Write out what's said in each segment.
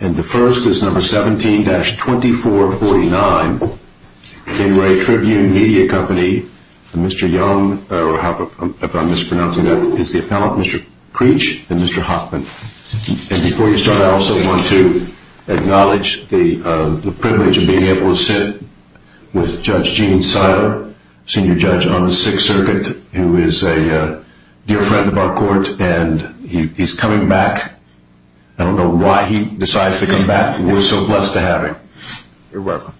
And the first is number 17-2449. In Re Tribune Media Company, Mr. Young, if I'm mispronouncing that, is the appellant, Mr. Creech, and Mr. Hoffman. And before you start, I also want to acknowledge the privilege of being able to sit with Judge Gene Seiler, Senior Judge on the Sixth Circuit, who is a dear friend of our court, and he's coming back. I don't know why he decides to come back, but we're so blessed to have him. You're welcome.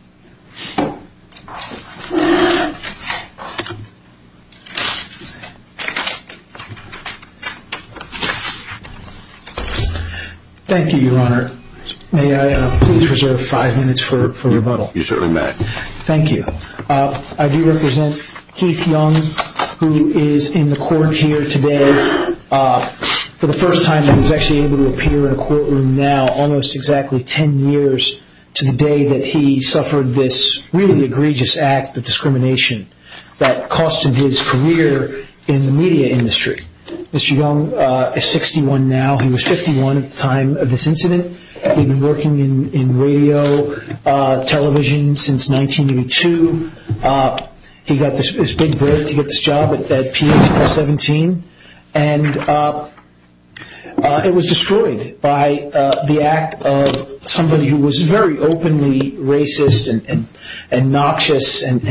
Thank you, Your Honor. May I please reserve five minutes for rebuttal? You certainly may. Thank you. I do represent Keith Young, who is in the court here today for the first time that he's actually able to appear in a courtroom now, almost exactly ten years to the day that he suffered this really egregious act of discrimination that costed his career in the media industry. Mr. Young is 61 now. He was 51 at the time of this incident. He'd been working in radio, television since 1982. He got this big break to get this job at pH 17. It was destroyed by the act of somebody who was very openly racist and noxious, and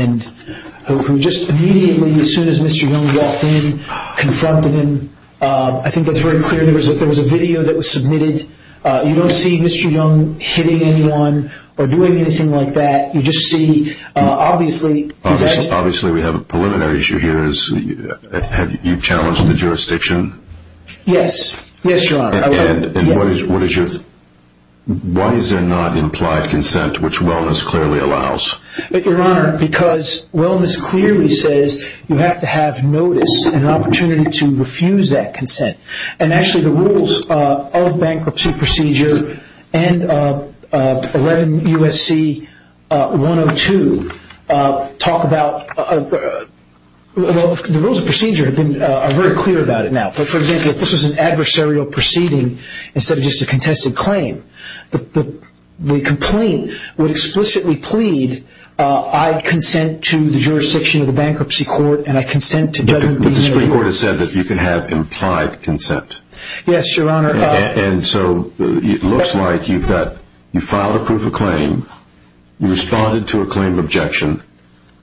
who just immediately, as soon as Mr. Young walked in, confronted him. I think that's very clear. There was a video that was submitted. You don't see Mr. Young hitting anyone or doing anything like that. You just see, obviously- Obviously, we have a preliminary issue here. Have you challenged the jurisdiction? Yes. Yes, Your Honor. And why is there not implied consent, which wellness clearly allows? Your Honor, because wellness clearly says you have to have notice and an opportunity to refuse that consent. And actually, the rules of bankruptcy procedure and 11 U.S.C. 102 talk about- The rules of procedure have been very clear about it now. But for example, if this was an adversarial proceeding instead of just a contested claim, the complaint would explicitly plead, I consent to the jurisdiction of the bankruptcy court, and I consent to- But the Supreme Court has said that you can have implied consent. Yes, Your Honor. And so it looks like you filed a proof of claim, you responded to a claim of objection,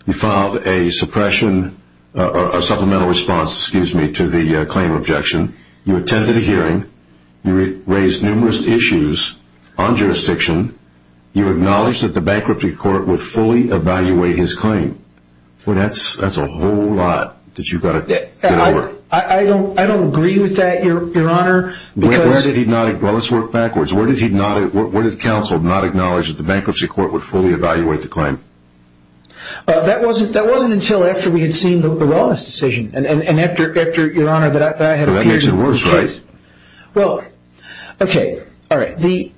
you filed a suppression, a supplemental response, excuse me, to the claim of objection, you attended a hearing, you raised numerous issues on jurisdiction, you acknowledged that the bankruptcy court would fully evaluate his claim. Well, that's a whole lot that you've got to get over. I don't agree with that, Your Honor. Well, let's work backwards. Where did counsel not acknowledge that the bankruptcy court would fully evaluate the claim? That wasn't until after we had seen the wellness decision, and after, Your Honor, that I had- That makes it worse, right? Well, okay, all right, the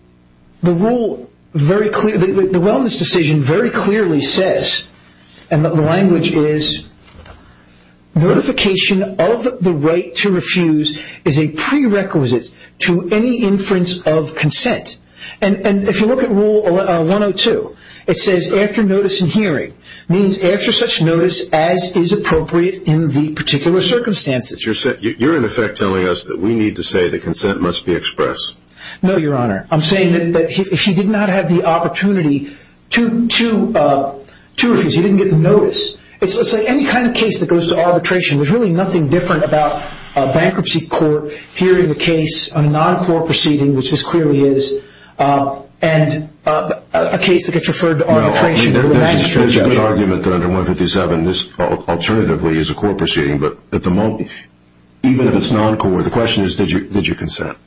wellness decision very clearly says, and the language is, notification of the right to refuse is a prerequisite to any inference of consent. And if you look at Rule 102, it says, after notice and hearing, means after such notice as is appropriate in the particular circumstances. You're in effect telling us that we need to say that consent must be expressed. No, Your Honor. I'm saying that if he did not have the opportunity to refuse, he didn't get the notice. It's like any kind of case that goes to arbitration, there's really nothing different about a bankruptcy court hearing the case on a non-court proceeding, which this clearly is, and a case that gets referred to arbitration. There's an argument that under 157, this alternatively is a court proceeding, but at the moment, even if it's non-court, the question is, did you consent?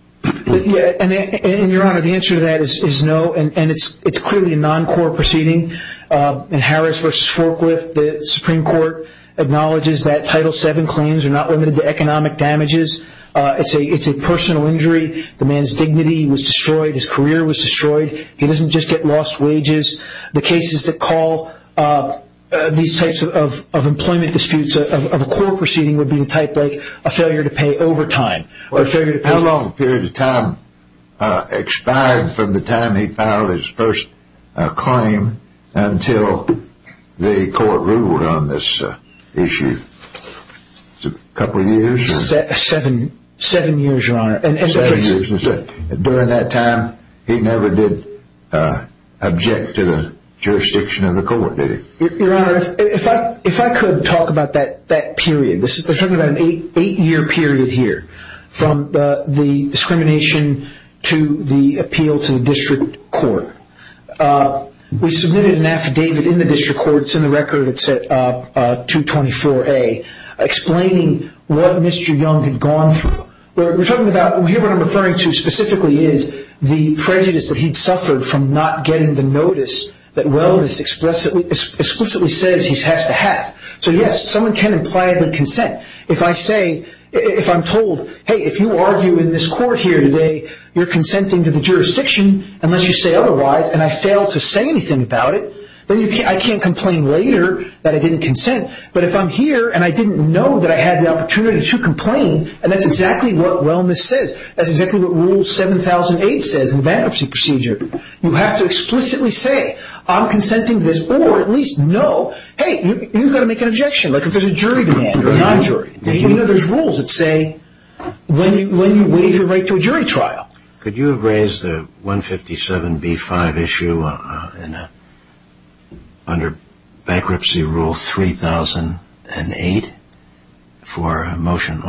Yeah, and Your Honor, the answer to that is no, and it's clearly a non-court proceeding. In Harris versus Forklift, the Supreme Court acknowledges that Title VII claims are not limited to economic damages, it's a personal injury, the man's dignity was destroyed, his career was destroyed, he doesn't just get lost wages. The cases that call these types of employment disputes of a court proceeding would be the type like a failure to pay overtime, or a failure to pay- How long period of time expired from the time he filed his first claim until the court ruled on this issue, a couple of years? Seven years, Your Honor. And during that time, he never did object to the jurisdiction of the court, did he? Your Honor, if I could talk about that period, they're talking about an eight-year period here, from the discrimination to the appeal to the district court. We submitted an affidavit in the district court, it's in the record, it's at 224A, explaining what Mr. Young had gone through. We're talking about, here what I'm referring to specifically is the prejudice that he'd suffered from not getting the notice that Welles explicitly says he has So yes, someone can imply the consent. If I say, if I'm told, hey, if you argue in this court here today, you're consenting to the jurisdiction, unless you say otherwise, and I fail to say anything about it, then I can't complain later that I didn't consent. But if I'm here and I didn't know that I had the opportunity to complain, and that's exactly what Welles says, that's exactly what rule 7008 says in the bankruptcy procedure. You have to explicitly say, I'm consenting to this, or at least know, hey, you've got to make an objection. Like if there's a jury demand or a non-jury. You know there's rules that say, when you waive your right to a jury trial. Could you have raised the 157B-5 issue under bankruptcy rule 3008 on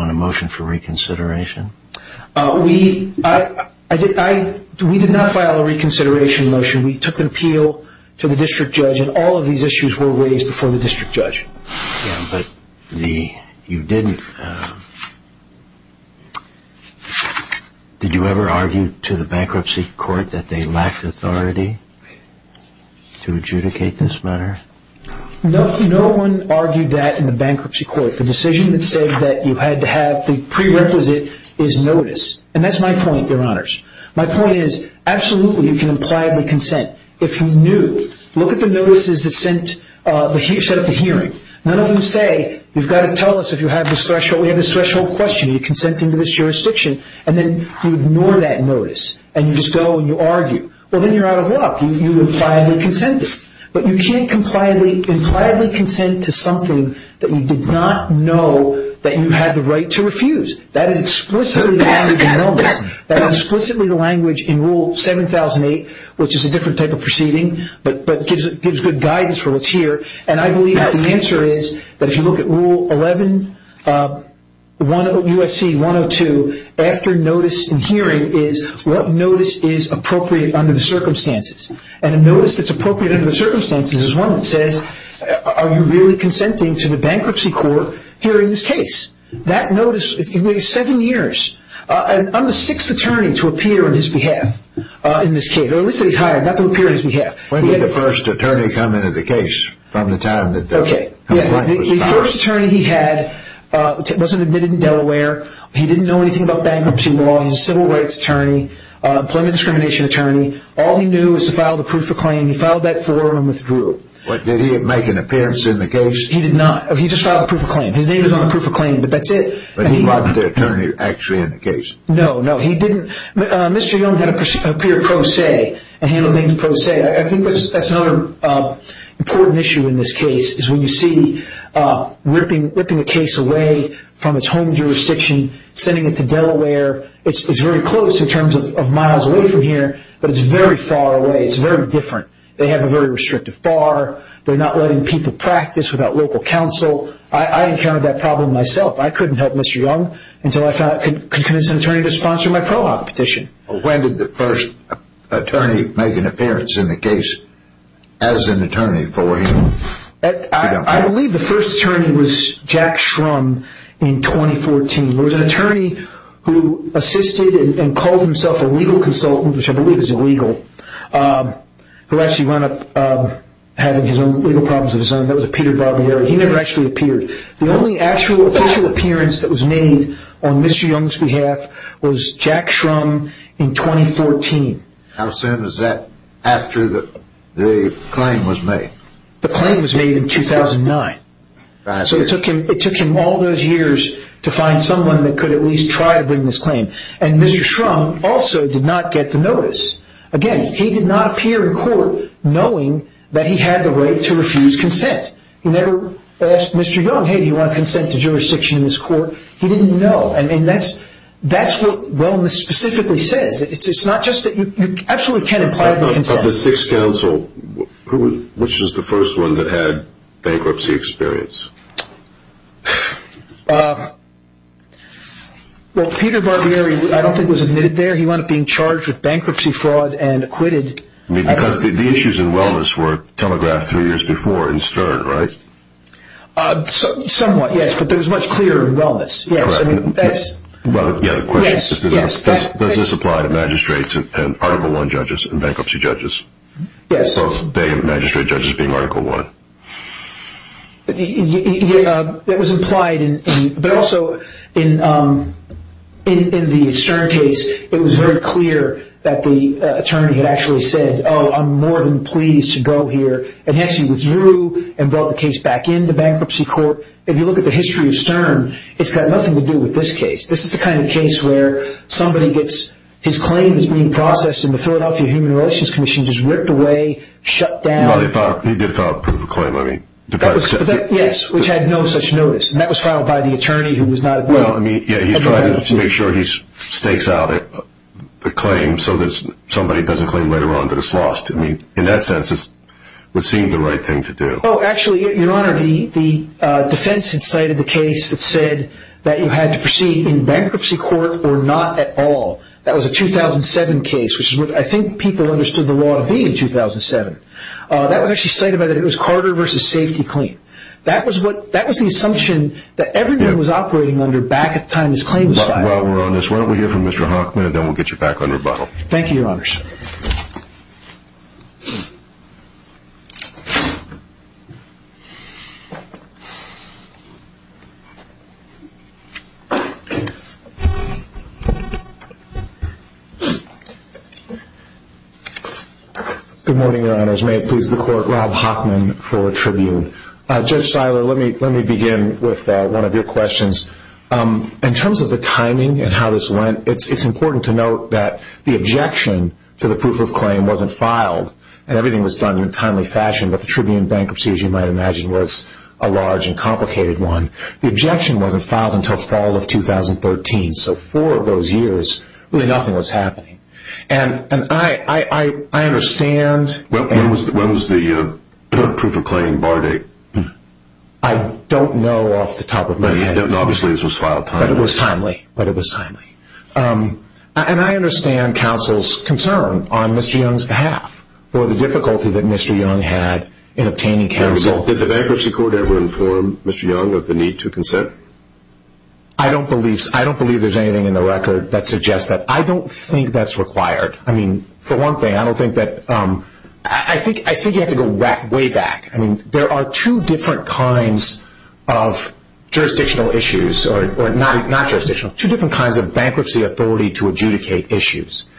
a motion for reconsideration? We did not file a reconsideration motion. We took an appeal to the district judge, and all of these issues were raised before the district judge. Yeah, but you didn't, did you ever argue to the bankruptcy court that they lacked authority to adjudicate this matter? No, no one argued that in the bankruptcy court. The decision that said that you had to have the prerequisite is notice. And that's my point, your honors. My point is, absolutely, you can impliedly consent. If you knew, look at the notices that set up the hearing. None of them say, you've got to tell us if you have this threshold. We have this threshold question. You're consenting to this jurisdiction. And then you ignore that notice, and you just go and you argue. Well, then you're out of luck. You impliedly consented. But you can't impliedly consent to something that you did not know that you had the right to refuse. That is explicitly the logic of notice. That is explicitly the language in Rule 7008, which is a different type of proceeding, but gives good guidance for what's here. And I believe that the answer is that if you look at Rule 11, USC 102, after notice in hearing is what notice is appropriate under the circumstances. And a notice that's appropriate under the circumstances is one that says, are you really consenting to the bankruptcy court hearing this case? That notice, it's been seven years. I'm the sixth attorney to appear on his behalf in this case. Or at least that he's hired, not to appear on his behalf. When did the first attorney come into the case from the time that the- Okay. Yeah, the first attorney he had wasn't admitted in Delaware. He didn't know anything about bankruptcy law. He's a civil rights attorney, employment discrimination attorney. All he knew was to file the proof of claim. He filed that for and withdrew. What, did he make an appearance in the case? He did not. He just filed a proof of claim. His name is on the proof of claim, but that's it. But he wasn't the attorney actually in the case. No, no, he didn't. Mr. Young had appeared pro se and handled things pro se. I think that's another important issue in this case, is when you see ripping a case away from its home jurisdiction, sending it to Delaware. It's very close in terms of miles away from here, but it's very far away. It's very different. They have a very restrictive bar. They're not letting people practice without local counsel. I encountered that problem myself. I couldn't help Mr. Young until I convinced an attorney to sponsor my pro hoc petition. When did the first attorney make an appearance in the case as an attorney for him? I believe the first attorney was Jack Shrum in 2014. There was an attorney who assisted and called himself a legal consultant, which I believe is illegal, who actually wound up having his own legal problems of his own. That was a Peter Barbieri. He never actually appeared. The only actual official appearance that was made on Mr. Young's behalf was Jack Shrum in 2014. How soon was that after the claim was made? The claim was made in 2009. So it took him all those years to find someone that could at least try to bring this claim. And Mr. Shrum also did not get the notice. Again, he did not appear in court knowing that he had the right to refuse consent. He never asked Mr. Young, hey, do you want consent to jurisdiction in this court? He didn't know. I mean, that's what wellness specifically says. It's not just that you absolutely can't imply the consent. Of the six counsel, which is the first one that had bankruptcy experience? Well, Peter Barbieri, I don't think was admitted there. He wound up being charged with bankruptcy fraud and acquitted. Because the issues in wellness were telegraphed three years before in Stern, right? Somewhat, yes. But it was much clearer in wellness. Yes. I mean, that's... Well, yeah, the question is, does this apply to magistrates and Article I judges and bankruptcy judges? Yes. Both they and magistrate judges being Article I. It was implied, but also in the Stern case, it was very clear that the attorney had actually said, oh, I'm more than pleased to go here and actually withdrew and brought the case back into bankruptcy court. If you look at the history of Stern, it's got nothing to do with this case. This is the kind of case where somebody gets his claim is being processed and the Philadelphia Human Relations Commission just ripped away, shut down. He did file a proof of claim. I mean, the fact is... Yes, which had no such notice. And that was filed by the attorney who was not... Well, I mean, yeah, he's trying to make sure he stakes out the claim so that somebody doesn't claim later on that it's lost. I mean, in that sense, it would seem the right thing to do. Oh, actually, Your Honor, the defense had cited the case that said that you had to proceed in bankruptcy court or not at all. That was a 2007 case, which I think people understood the law to be in 2007. That one actually cited that it was Carter versus safety claim. That was the assumption that everyone was operating under back at the time this claim was filed. While we're on this, why don't we hear from Mr. Hockman and then we'll get you back on rebuttal. Thank you, Your Honors. Good morning, Your Honors. May it please the court, Rob Hockman for Tribune. Judge Siler, let me begin with one of your questions. In terms of the timing and how this went, it's important to note that the objection to the proof of claim wasn't filed. And everything was done in a timely fashion. But the Tribune bankruptcy, as you might imagine, was a large and complicated one. The objection wasn't filed until fall of 2013. So four of those years, really nothing was happening. And I understand... When was the proof of claim bar date? I don't know off the top of my head. Obviously, this was filed timely. But it was timely. And I understand counsel's concern on Mr. Young's behalf for the difficulty that Mr. Young had in obtaining counsel. Did the bankruptcy court ever inform Mr. Young of the need to consent? I don't believe there's anything in the record that suggests that. I don't think that's required. I mean, for one thing, I don't think that... I think you have to go way back. I mean, there are two different kinds of jurisdictional issues, or not jurisdictional, two different kinds of bankruptcy authority to adjudicate issues.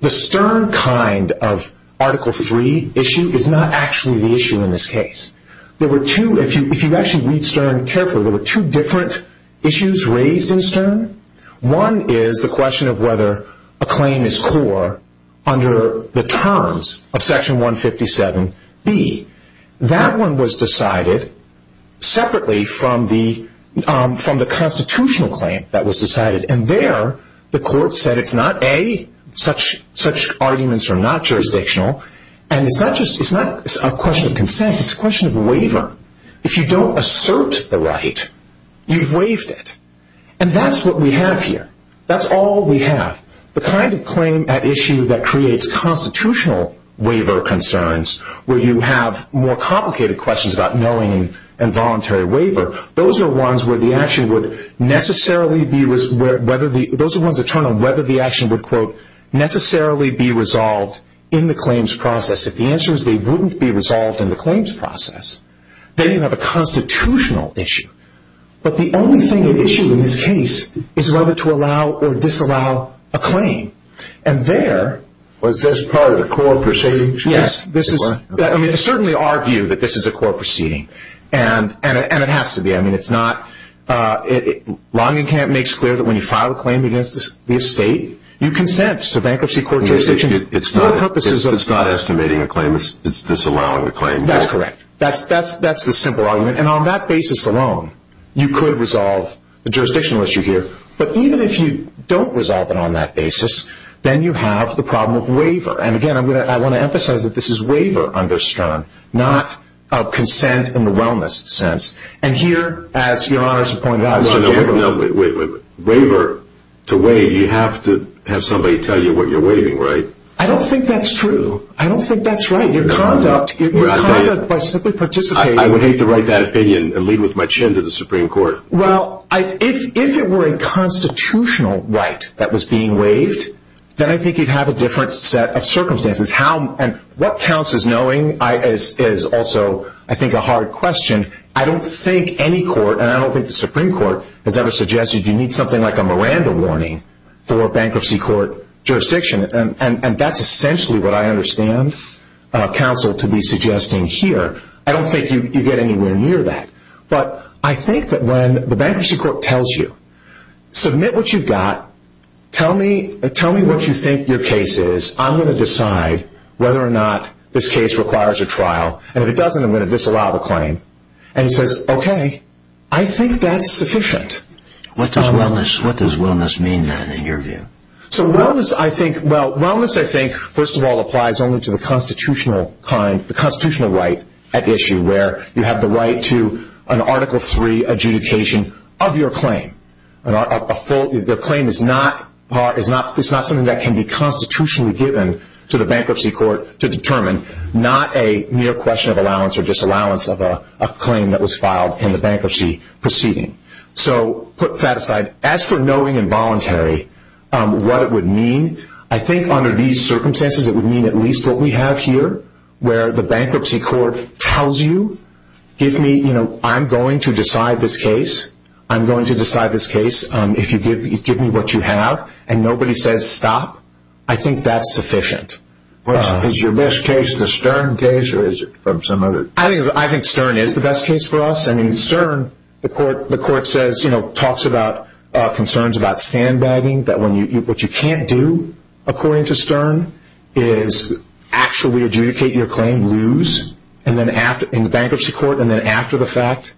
The Stern kind of Article III issue is not actually the issue in this case. If you actually read Stern carefully, there were two different issues raised in Stern. One is the question of whether a claim is core under the terms of Section 157B. That one was decided separately from the constitutional claim that was decided. And there, the court said it's not, A, such arguments are not jurisdictional. And it's not a question of consent. It's a question of waiver. If you don't assert the right, you've waived it. And that's what we have here. That's all we have. The kind of claim at issue that creates constitutional waiver concerns, where you have more complicated questions about knowing involuntary waiver, those are ones where the action would necessarily be, those are ones that turn on whether the action would, quote, necessarily be resolved in the claims process. If the answer is they wouldn't be resolved in the claims process, then you have a constitutional issue. But the only thing at issue in this case is whether to allow or disallow a claim. And there. Was this part of the court proceeding? Yes. I mean, it's certainly our view that this is a court proceeding. And it has to be. I mean, Longenkamp makes clear that when you file a claim against the estate, you consent. So bankruptcy court jurisdiction. It's not estimating a claim. It's disallowing a claim. That's correct. That's the simple argument. And on that basis alone, you could resolve the jurisdictional issue here. And, again, I want to emphasize that this is waiver under STROM, not consent in the wellness sense. And here, as Your Honor has pointed out, it's a waiver. Wait, wait, wait. Waiver. To waive, you have to have somebody tell you what you're waiving, right? I don't think that's true. I don't think that's right. Your conduct. Your conduct by simply participating. I would hate to write that opinion and lead with my chin to the Supreme Court. Well, if it were a constitutional right that was being waived, then I think you'd have a different set of circumstances. And what counts as knowing is also, I think, a hard question. I don't think any court, and I don't think the Supreme Court, has ever suggested you need something like a Miranda warning for bankruptcy court jurisdiction. And that's essentially what I understand counsel to be suggesting here. I don't think you get anywhere near that. But I think that when the bankruptcy court tells you, submit what you've got, tell me what you think your case is, I'm going to decide whether or not this case requires a trial. And if it doesn't, I'm going to disallow the claim. And he says, okay, I think that's sufficient. What does wellness mean, then, in your view? Well, wellness, I think, first of all, applies only to the constitutional right at issue where you have the right to an Article III adjudication of your claim. The claim is not something that can be constitutionally given to the bankruptcy court to determine, not a mere question of allowance or disallowance of a claim that was filed in the bankruptcy proceeding. So put that aside. As for knowing involuntary, what it would mean, I think under these circumstances it would mean at least what we have here, where the bankruptcy court tells you, I'm going to decide this case. I'm going to decide this case. Give me what you have. And nobody says stop. I think that's sufficient. Is your best case the Stern case or is it from some other? I think Stern is the best case for us. In Stern, the court talks about concerns about sandbagging, that what you can't do, according to Stern, is actually adjudicate your claim, lose, in the bankruptcy court, and then after the fact,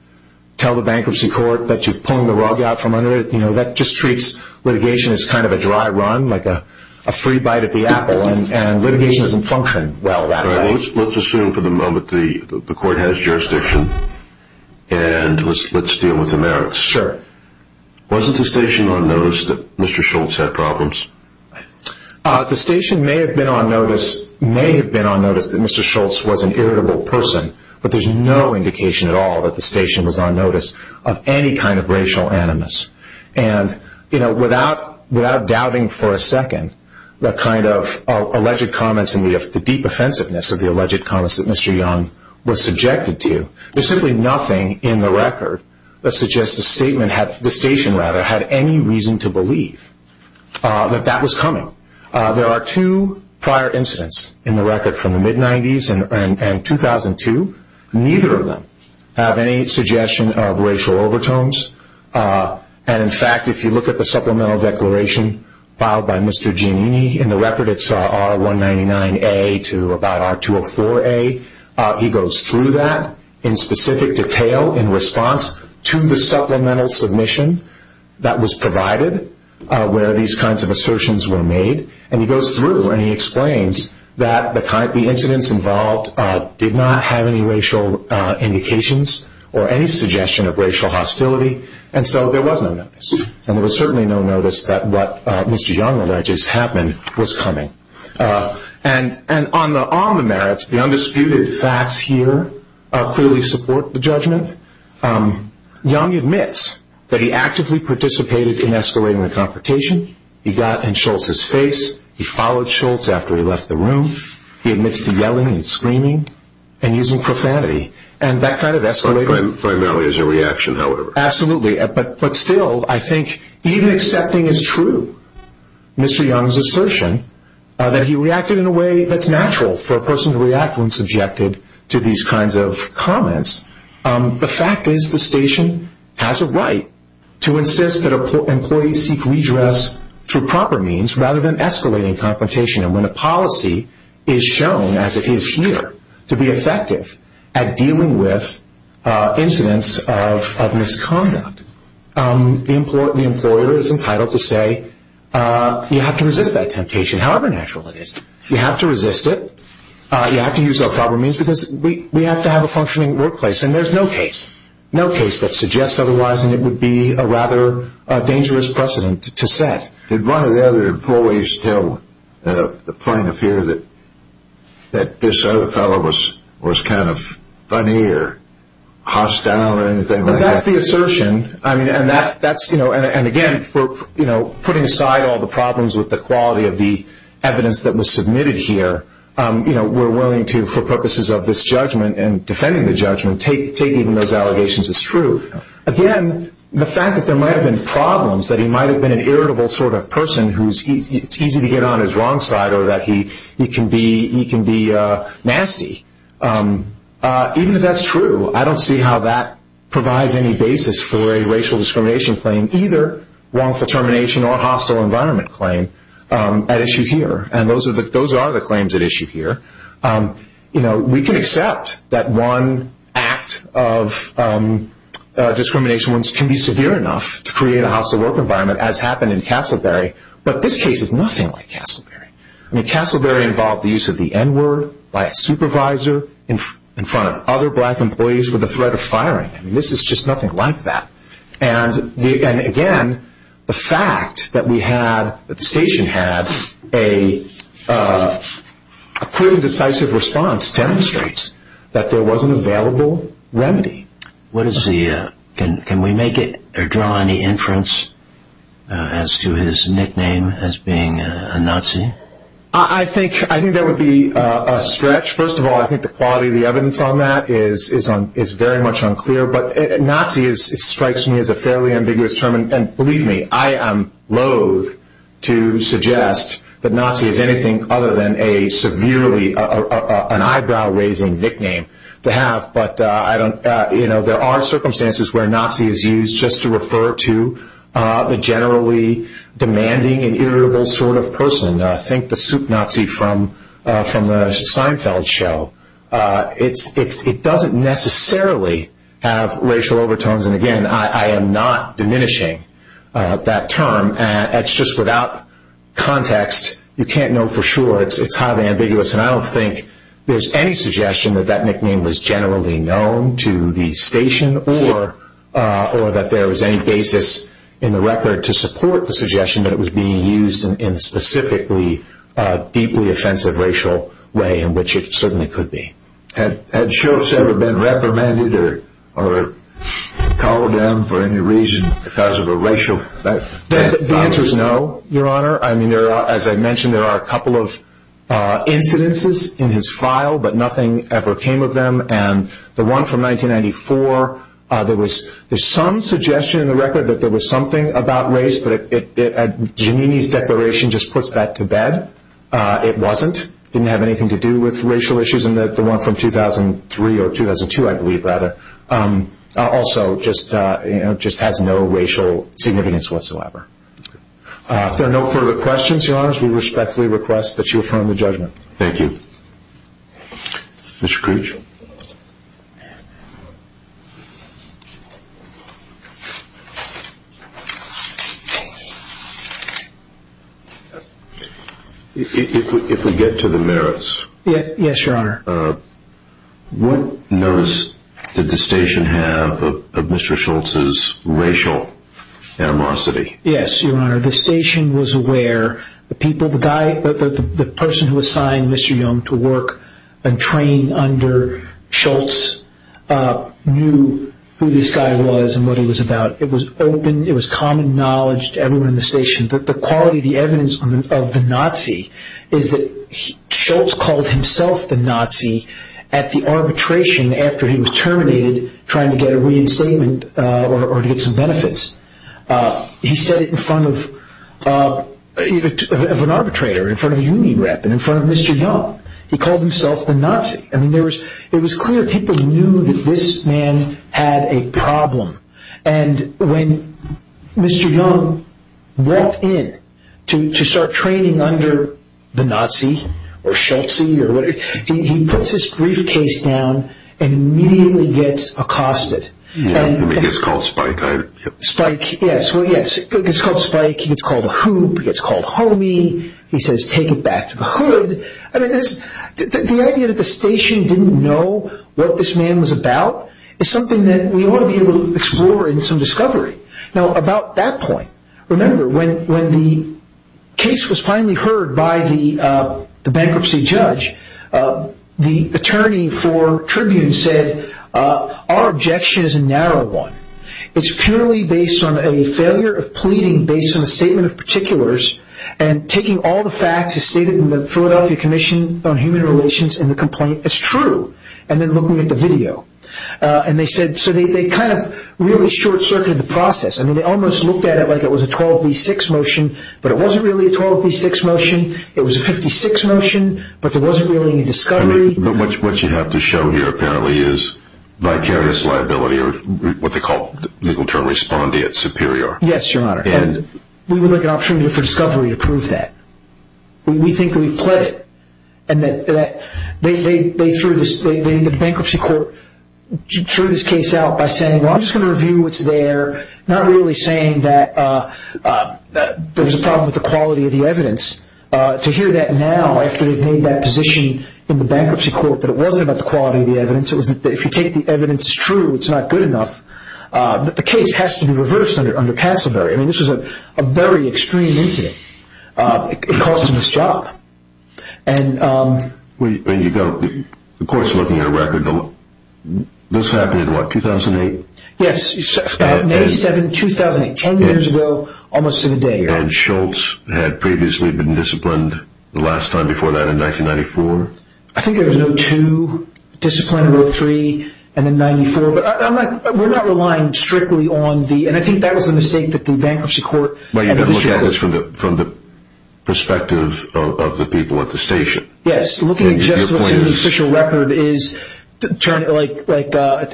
tell the bankruptcy court that you've pulled the rug out from under it. That just treats litigation as kind of a dry run, like a free bite at the apple, and litigation doesn't function well that way. Let's assume for the moment the court has jurisdiction, and let's deal with the merits. Sure. Wasn't the station on notice that Mr. Schultz had problems? The station may have been on notice, that Mr. Schultz was an irritable person, but there's no indication at all that the station was on notice of any kind of racial animus. Without doubting for a second the kind of alleged comments and the deep offensiveness of the alleged comments that Mr. Young was subjected to, there's simply nothing in the record that suggests the station had any reason to believe that that was coming. There are two prior incidents in the record from the mid-90s and 2002. Neither of them have any suggestion of racial overtones, and in fact, if you look at the supplemental declaration filed by Mr. Giannini in the record, it's R199A to about R204A. He goes through that in specific detail in response to the supplemental submission that was provided where these kinds of assertions were made, and he goes through and he explains that the incidents involved did not have any racial indications or any suggestion of racial hostility, and so there was no notice. There was certainly no notice that what Mr. Young alleges happened was coming. On the merits, the undisputed facts here clearly support the judgment. Young admits that he actively participated in escalating the confrontation. He got in Schultz's face. He followed Schultz after he left the room. He admits to yelling and screaming and using profanity, and that kind of escalated. Primarily as a reaction, however. Absolutely, but still, I think even accepting as true Mr. Young's assertion that he reacted in a way that's natural for a person to react when subjected to these kinds of comments, the fact is the station has a right to insist that employees seek redress through proper means rather than escalating confrontation, and when a policy is shown, as it is here, to be effective at dealing with incidents of misconduct, the employer is entitled to say, you have to resist that temptation, however natural it is. You have to resist it. You have to use proper means because we have to have a functioning workplace, and there's no case that suggests otherwise, and it would be a rather dangerous precedent to set. Did one of the other employees tell the plaintiff here that this other fellow was kind of funny or hostile or anything like that? That's the assertion, and again, putting aside all the problems with the quality of the evidence that was submitted here, we're willing to, for purposes of this judgment and defending the judgment, take even those allegations as true. Again, the fact that there might have been problems, that he might have been an irritable sort of person who's easy to get on his wrong side or that he can be nasty, even if that's true, I don't see how that provides any basis for a racial discrimination claim, either wrongful termination or hostile environment claim at issue here, and those are the claims at issue here. We can accept that one act of discrimination can be severe enough to create a hostile work environment, as happened in Castleberry, but this case is nothing like Castleberry. I mean, Castleberry involved the use of the N-word by a supervisor in front of other black employees with the threat of firing. I mean, this is just nothing like that. And again, the fact that the station had a pretty decisive response demonstrates that there was an available remedy. Can we make it or draw any inference as to his nickname as being a Nazi? I think that would be a stretch. First of all, I think the quality of the evidence on that is very much unclear, but Nazi strikes me as a fairly ambiguous term, and believe me, I am loathe to suggest that Nazi is anything other than a severely, an eyebrow-raising nickname to have, but there are circumstances where Nazi is used just to refer to a generally demanding and irritable sort of person. Think the Soup Nazi from the Seinfeld show. It doesn't necessarily have racial overtones, and again, I am not diminishing that term. It's just without context. You can't know for sure. It's highly ambiguous, and I don't think there's any suggestion that that nickname was generally known to the station or that there was any basis in the record to support the suggestion that it was being used in a specifically deeply offensive racial way, in which it certainly could be. Had Shoaffs ever been reprimanded or called down for any reason because of a racial... The answer is no, Your Honor. As I mentioned, there are a couple of incidences in his file, but nothing ever came of them, and the one from 1994, there's some suggestion in the record that there was something about race, but Giannini's declaration just puts that to bed. It wasn't. It didn't have anything to do with racial issues, and the one from 2003 or 2002, I believe, rather, also just has no racial significance whatsoever. If there are no further questions, Your Honors, we respectfully request that you affirm the judgment. Thank you. Mr. Creech? If we get to the merits. Yes, Your Honor. What notice did the station have of Mr. Schultz's racial animosity? Yes, Your Honor, the station was aware. The person who assigned Mr. Young to work and train under Schultz knew who this guy was and what he was about. It was open. It was common knowledge to everyone in the station. The quality, the evidence of the Nazi is that Schultz called himself the Nazi at the arbitration after he was terminated trying to get a reinstatement or to get some benefits. He said it in front of an arbitrator, in front of a union rep, and in front of Mr. Young. He called himself the Nazi. I mean, it was clear people knew that this man had a problem, and when Mr. Young walked in to start training under the Nazi or Schultz or whatever, he puts his briefcase down and immediately gets accosted. He gets called Spike. Spike, yes. Well, yes, he gets called Spike. He gets called a hoop. He gets called homie. He says, take it back to the hood. I mean, the idea that the station didn't know what this man was about is something that we ought to be able to explore in some discovery. Now, about that point, remember, when the case was finally heard by the bankruptcy judge, the attorney for Tribune said, our objection is a narrow one. It's purely based on a failure of pleading based on a statement of particulars and taking all the facts as stated in the Philadelphia Commission on Human Relations in the complaint as true, and then looking at the video. And they said, so they kind of really short-circuited the process. I mean, they almost looked at it like it was a 12B6 motion, but it wasn't really a 12B6 motion. It was a 56 motion, but there wasn't really any discovery. What you have to show here apparently is vicarious liability or what they call legal term respondeat superior. Yes, Your Honor. And we would like an opportunity for discovery to prove that. We think that we've pled it. And the bankruptcy court threw this case out by saying, well, I'm just going to review what's there, but not really saying that there's a problem with the quality of the evidence. To hear that now after they've made that position in the bankruptcy court that it wasn't about the quality of the evidence, it was that if you take the evidence as true, it's not good enough, that the case has to be reversed under Casselberry. I mean, this was a very extreme incident. It cost him his job. The court's looking at a record. This happened in what, 2008? Yes, about May 7, 2008, 10 years ago, almost in a day, Your Honor. And Schultz had previously been disciplined the last time before that in 1994? I think there was a No. 2 discipline, a No. 3, and then 94. But we're not relying strictly on the – and I think that was a mistake that the bankruptcy court – But you've been looking at this from the perspective of the people at the station. Yes, looking at just what the official record is, like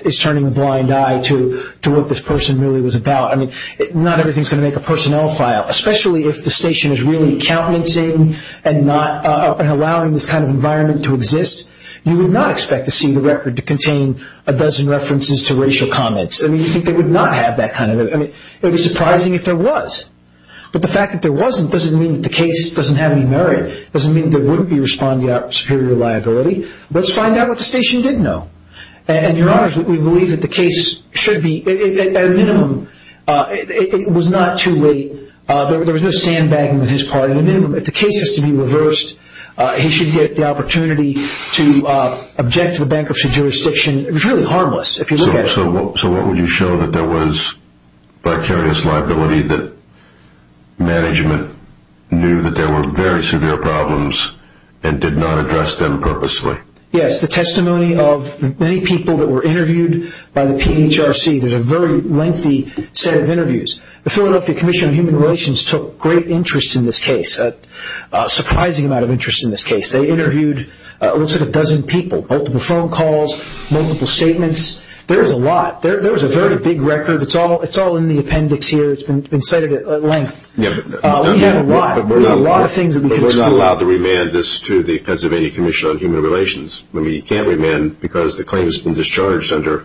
it's turning a blind eye to what this person really was about. I mean, not everything's going to make a personnel file, especially if the station is really accountancing and allowing this kind of environment to exist. You would not expect to see the record to contain a dozen references to racial comments. I mean, you'd think they would not have that kind of – I mean, it would be surprising if there was. But the fact that there wasn't doesn't mean that the case doesn't have any merit. It doesn't mean there wouldn't be responding to superior liability. Let's find out what the station didn't know. And, Your Honor, we believe that the case should be – at a minimum, it was not too late. There was no sandbagging on his part. At a minimum, if the case is to be reversed, he should get the opportunity to object to the bankruptcy jurisdiction. It was really harmless if you look at it that way. So what would you show that there was vicarious liability, that management knew that there were very severe problems and did not address them purposely? Yes, the testimony of many people that were interviewed by the PHRC. There's a very lengthy set of interviews. The Philadelphia Commission on Human Relations took great interest in this case, a surprising amount of interest in this case. They interviewed what looks like a dozen people, multiple phone calls, multiple statements. There was a lot. There was a very big record. It's all in the appendix here. It's been cited at length. We have a lot. There's a lot of things that we can talk about. But we're not allowed to remand this to the Pennsylvania Commission on Human Relations. I mean, you can't remand because the claim has been discharged under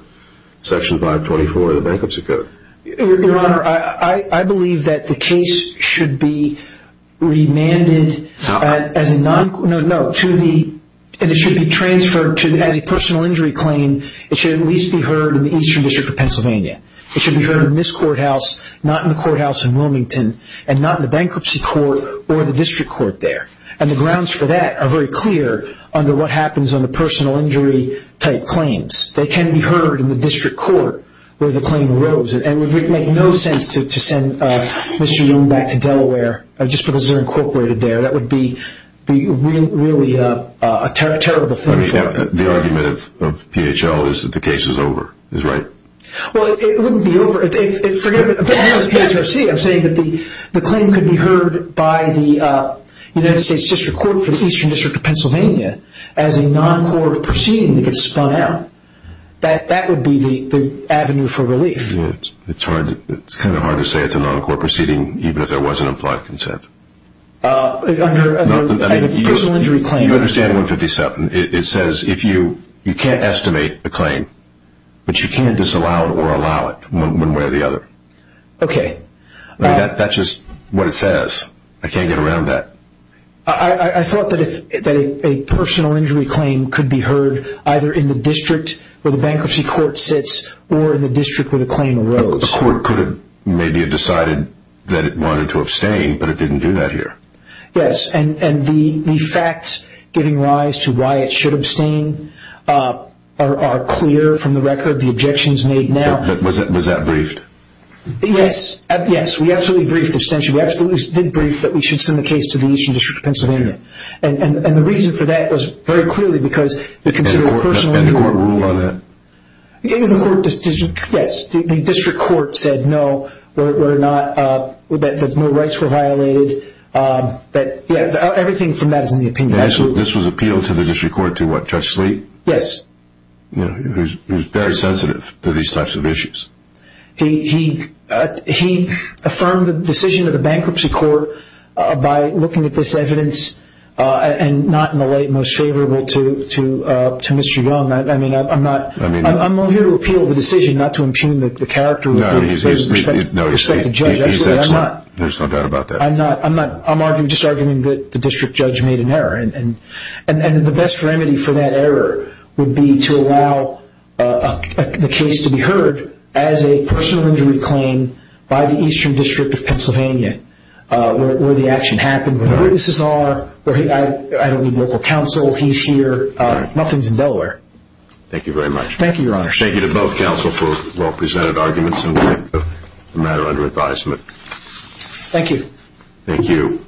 Section 524 of the Bankruptcy Code. Your Honor, I believe that the case should be remanded as a non – no, to the – and it should be transferred as a personal injury claim. It should at least be heard in the Eastern District of Pennsylvania. It should be heard in this courthouse, not in the courthouse in Wilmington, and not in the bankruptcy court or the district court there. And the grounds for that are very clear under what happens under personal injury type claims. They can be heard in the district court where the claim arose. And it would make no sense to send Mr. Young back to Delaware just because they're incorporated there. That would be really a terrible thing for him. I mean, the argument of PHL is that the case is over, is right? Well, it wouldn't be over. Forget about the PHRC. I'm saying that the claim could be heard by the United States District Court for the Eastern District of Pennsylvania as a non-court proceeding that gets spun out. That would be the avenue for relief. It's kind of hard to say it's a non-court proceeding even if there was an implied consent. Under a personal injury claim. You understand 157. You can't estimate a claim, but you can't disallow it or allow it one way or the other. Okay. That's just what it says. I can't get around that. I thought that a personal injury claim could be heard either in the district where the bankruptcy court sits or in the district where the claim arose. A court could have maybe decided that it wanted to abstain, but it didn't do that here. Yes. The facts giving rise to why it should abstain are clear from the record. The objections made now. Was that briefed? Yes. Yes. We absolutely briefed abstention. We absolutely did brief that we should send the case to the Eastern District of Pennsylvania. The reason for that was very clearly because you consider personal injury. Did the court rule on that? Yes. The district court said no, that no rights were violated. Everything from that is in the opinion. This was appealed to the district court to what, Judge Sleet? Yes. He was very sensitive to these types of issues. He affirmed the decision of the bankruptcy court by looking at this evidence and not in the light most favorable to Mr. Young. I'm only here to appeal the decision, not to impugn the character. No, he's excellent. There's no doubt about that. I'm just arguing that the district judge made an error. The best remedy for that error would be to allow the case to be heard as a personal injury claim by the Eastern District of Pennsylvania where the action happened, where witnesses are. I don't need local counsel, he's here. Nothing's in Delaware. Thank you very much. Thank you, Your Honor. Thank you to both counsel for well-presented arguments in light of the matter under advisement. Thank you. Thank you.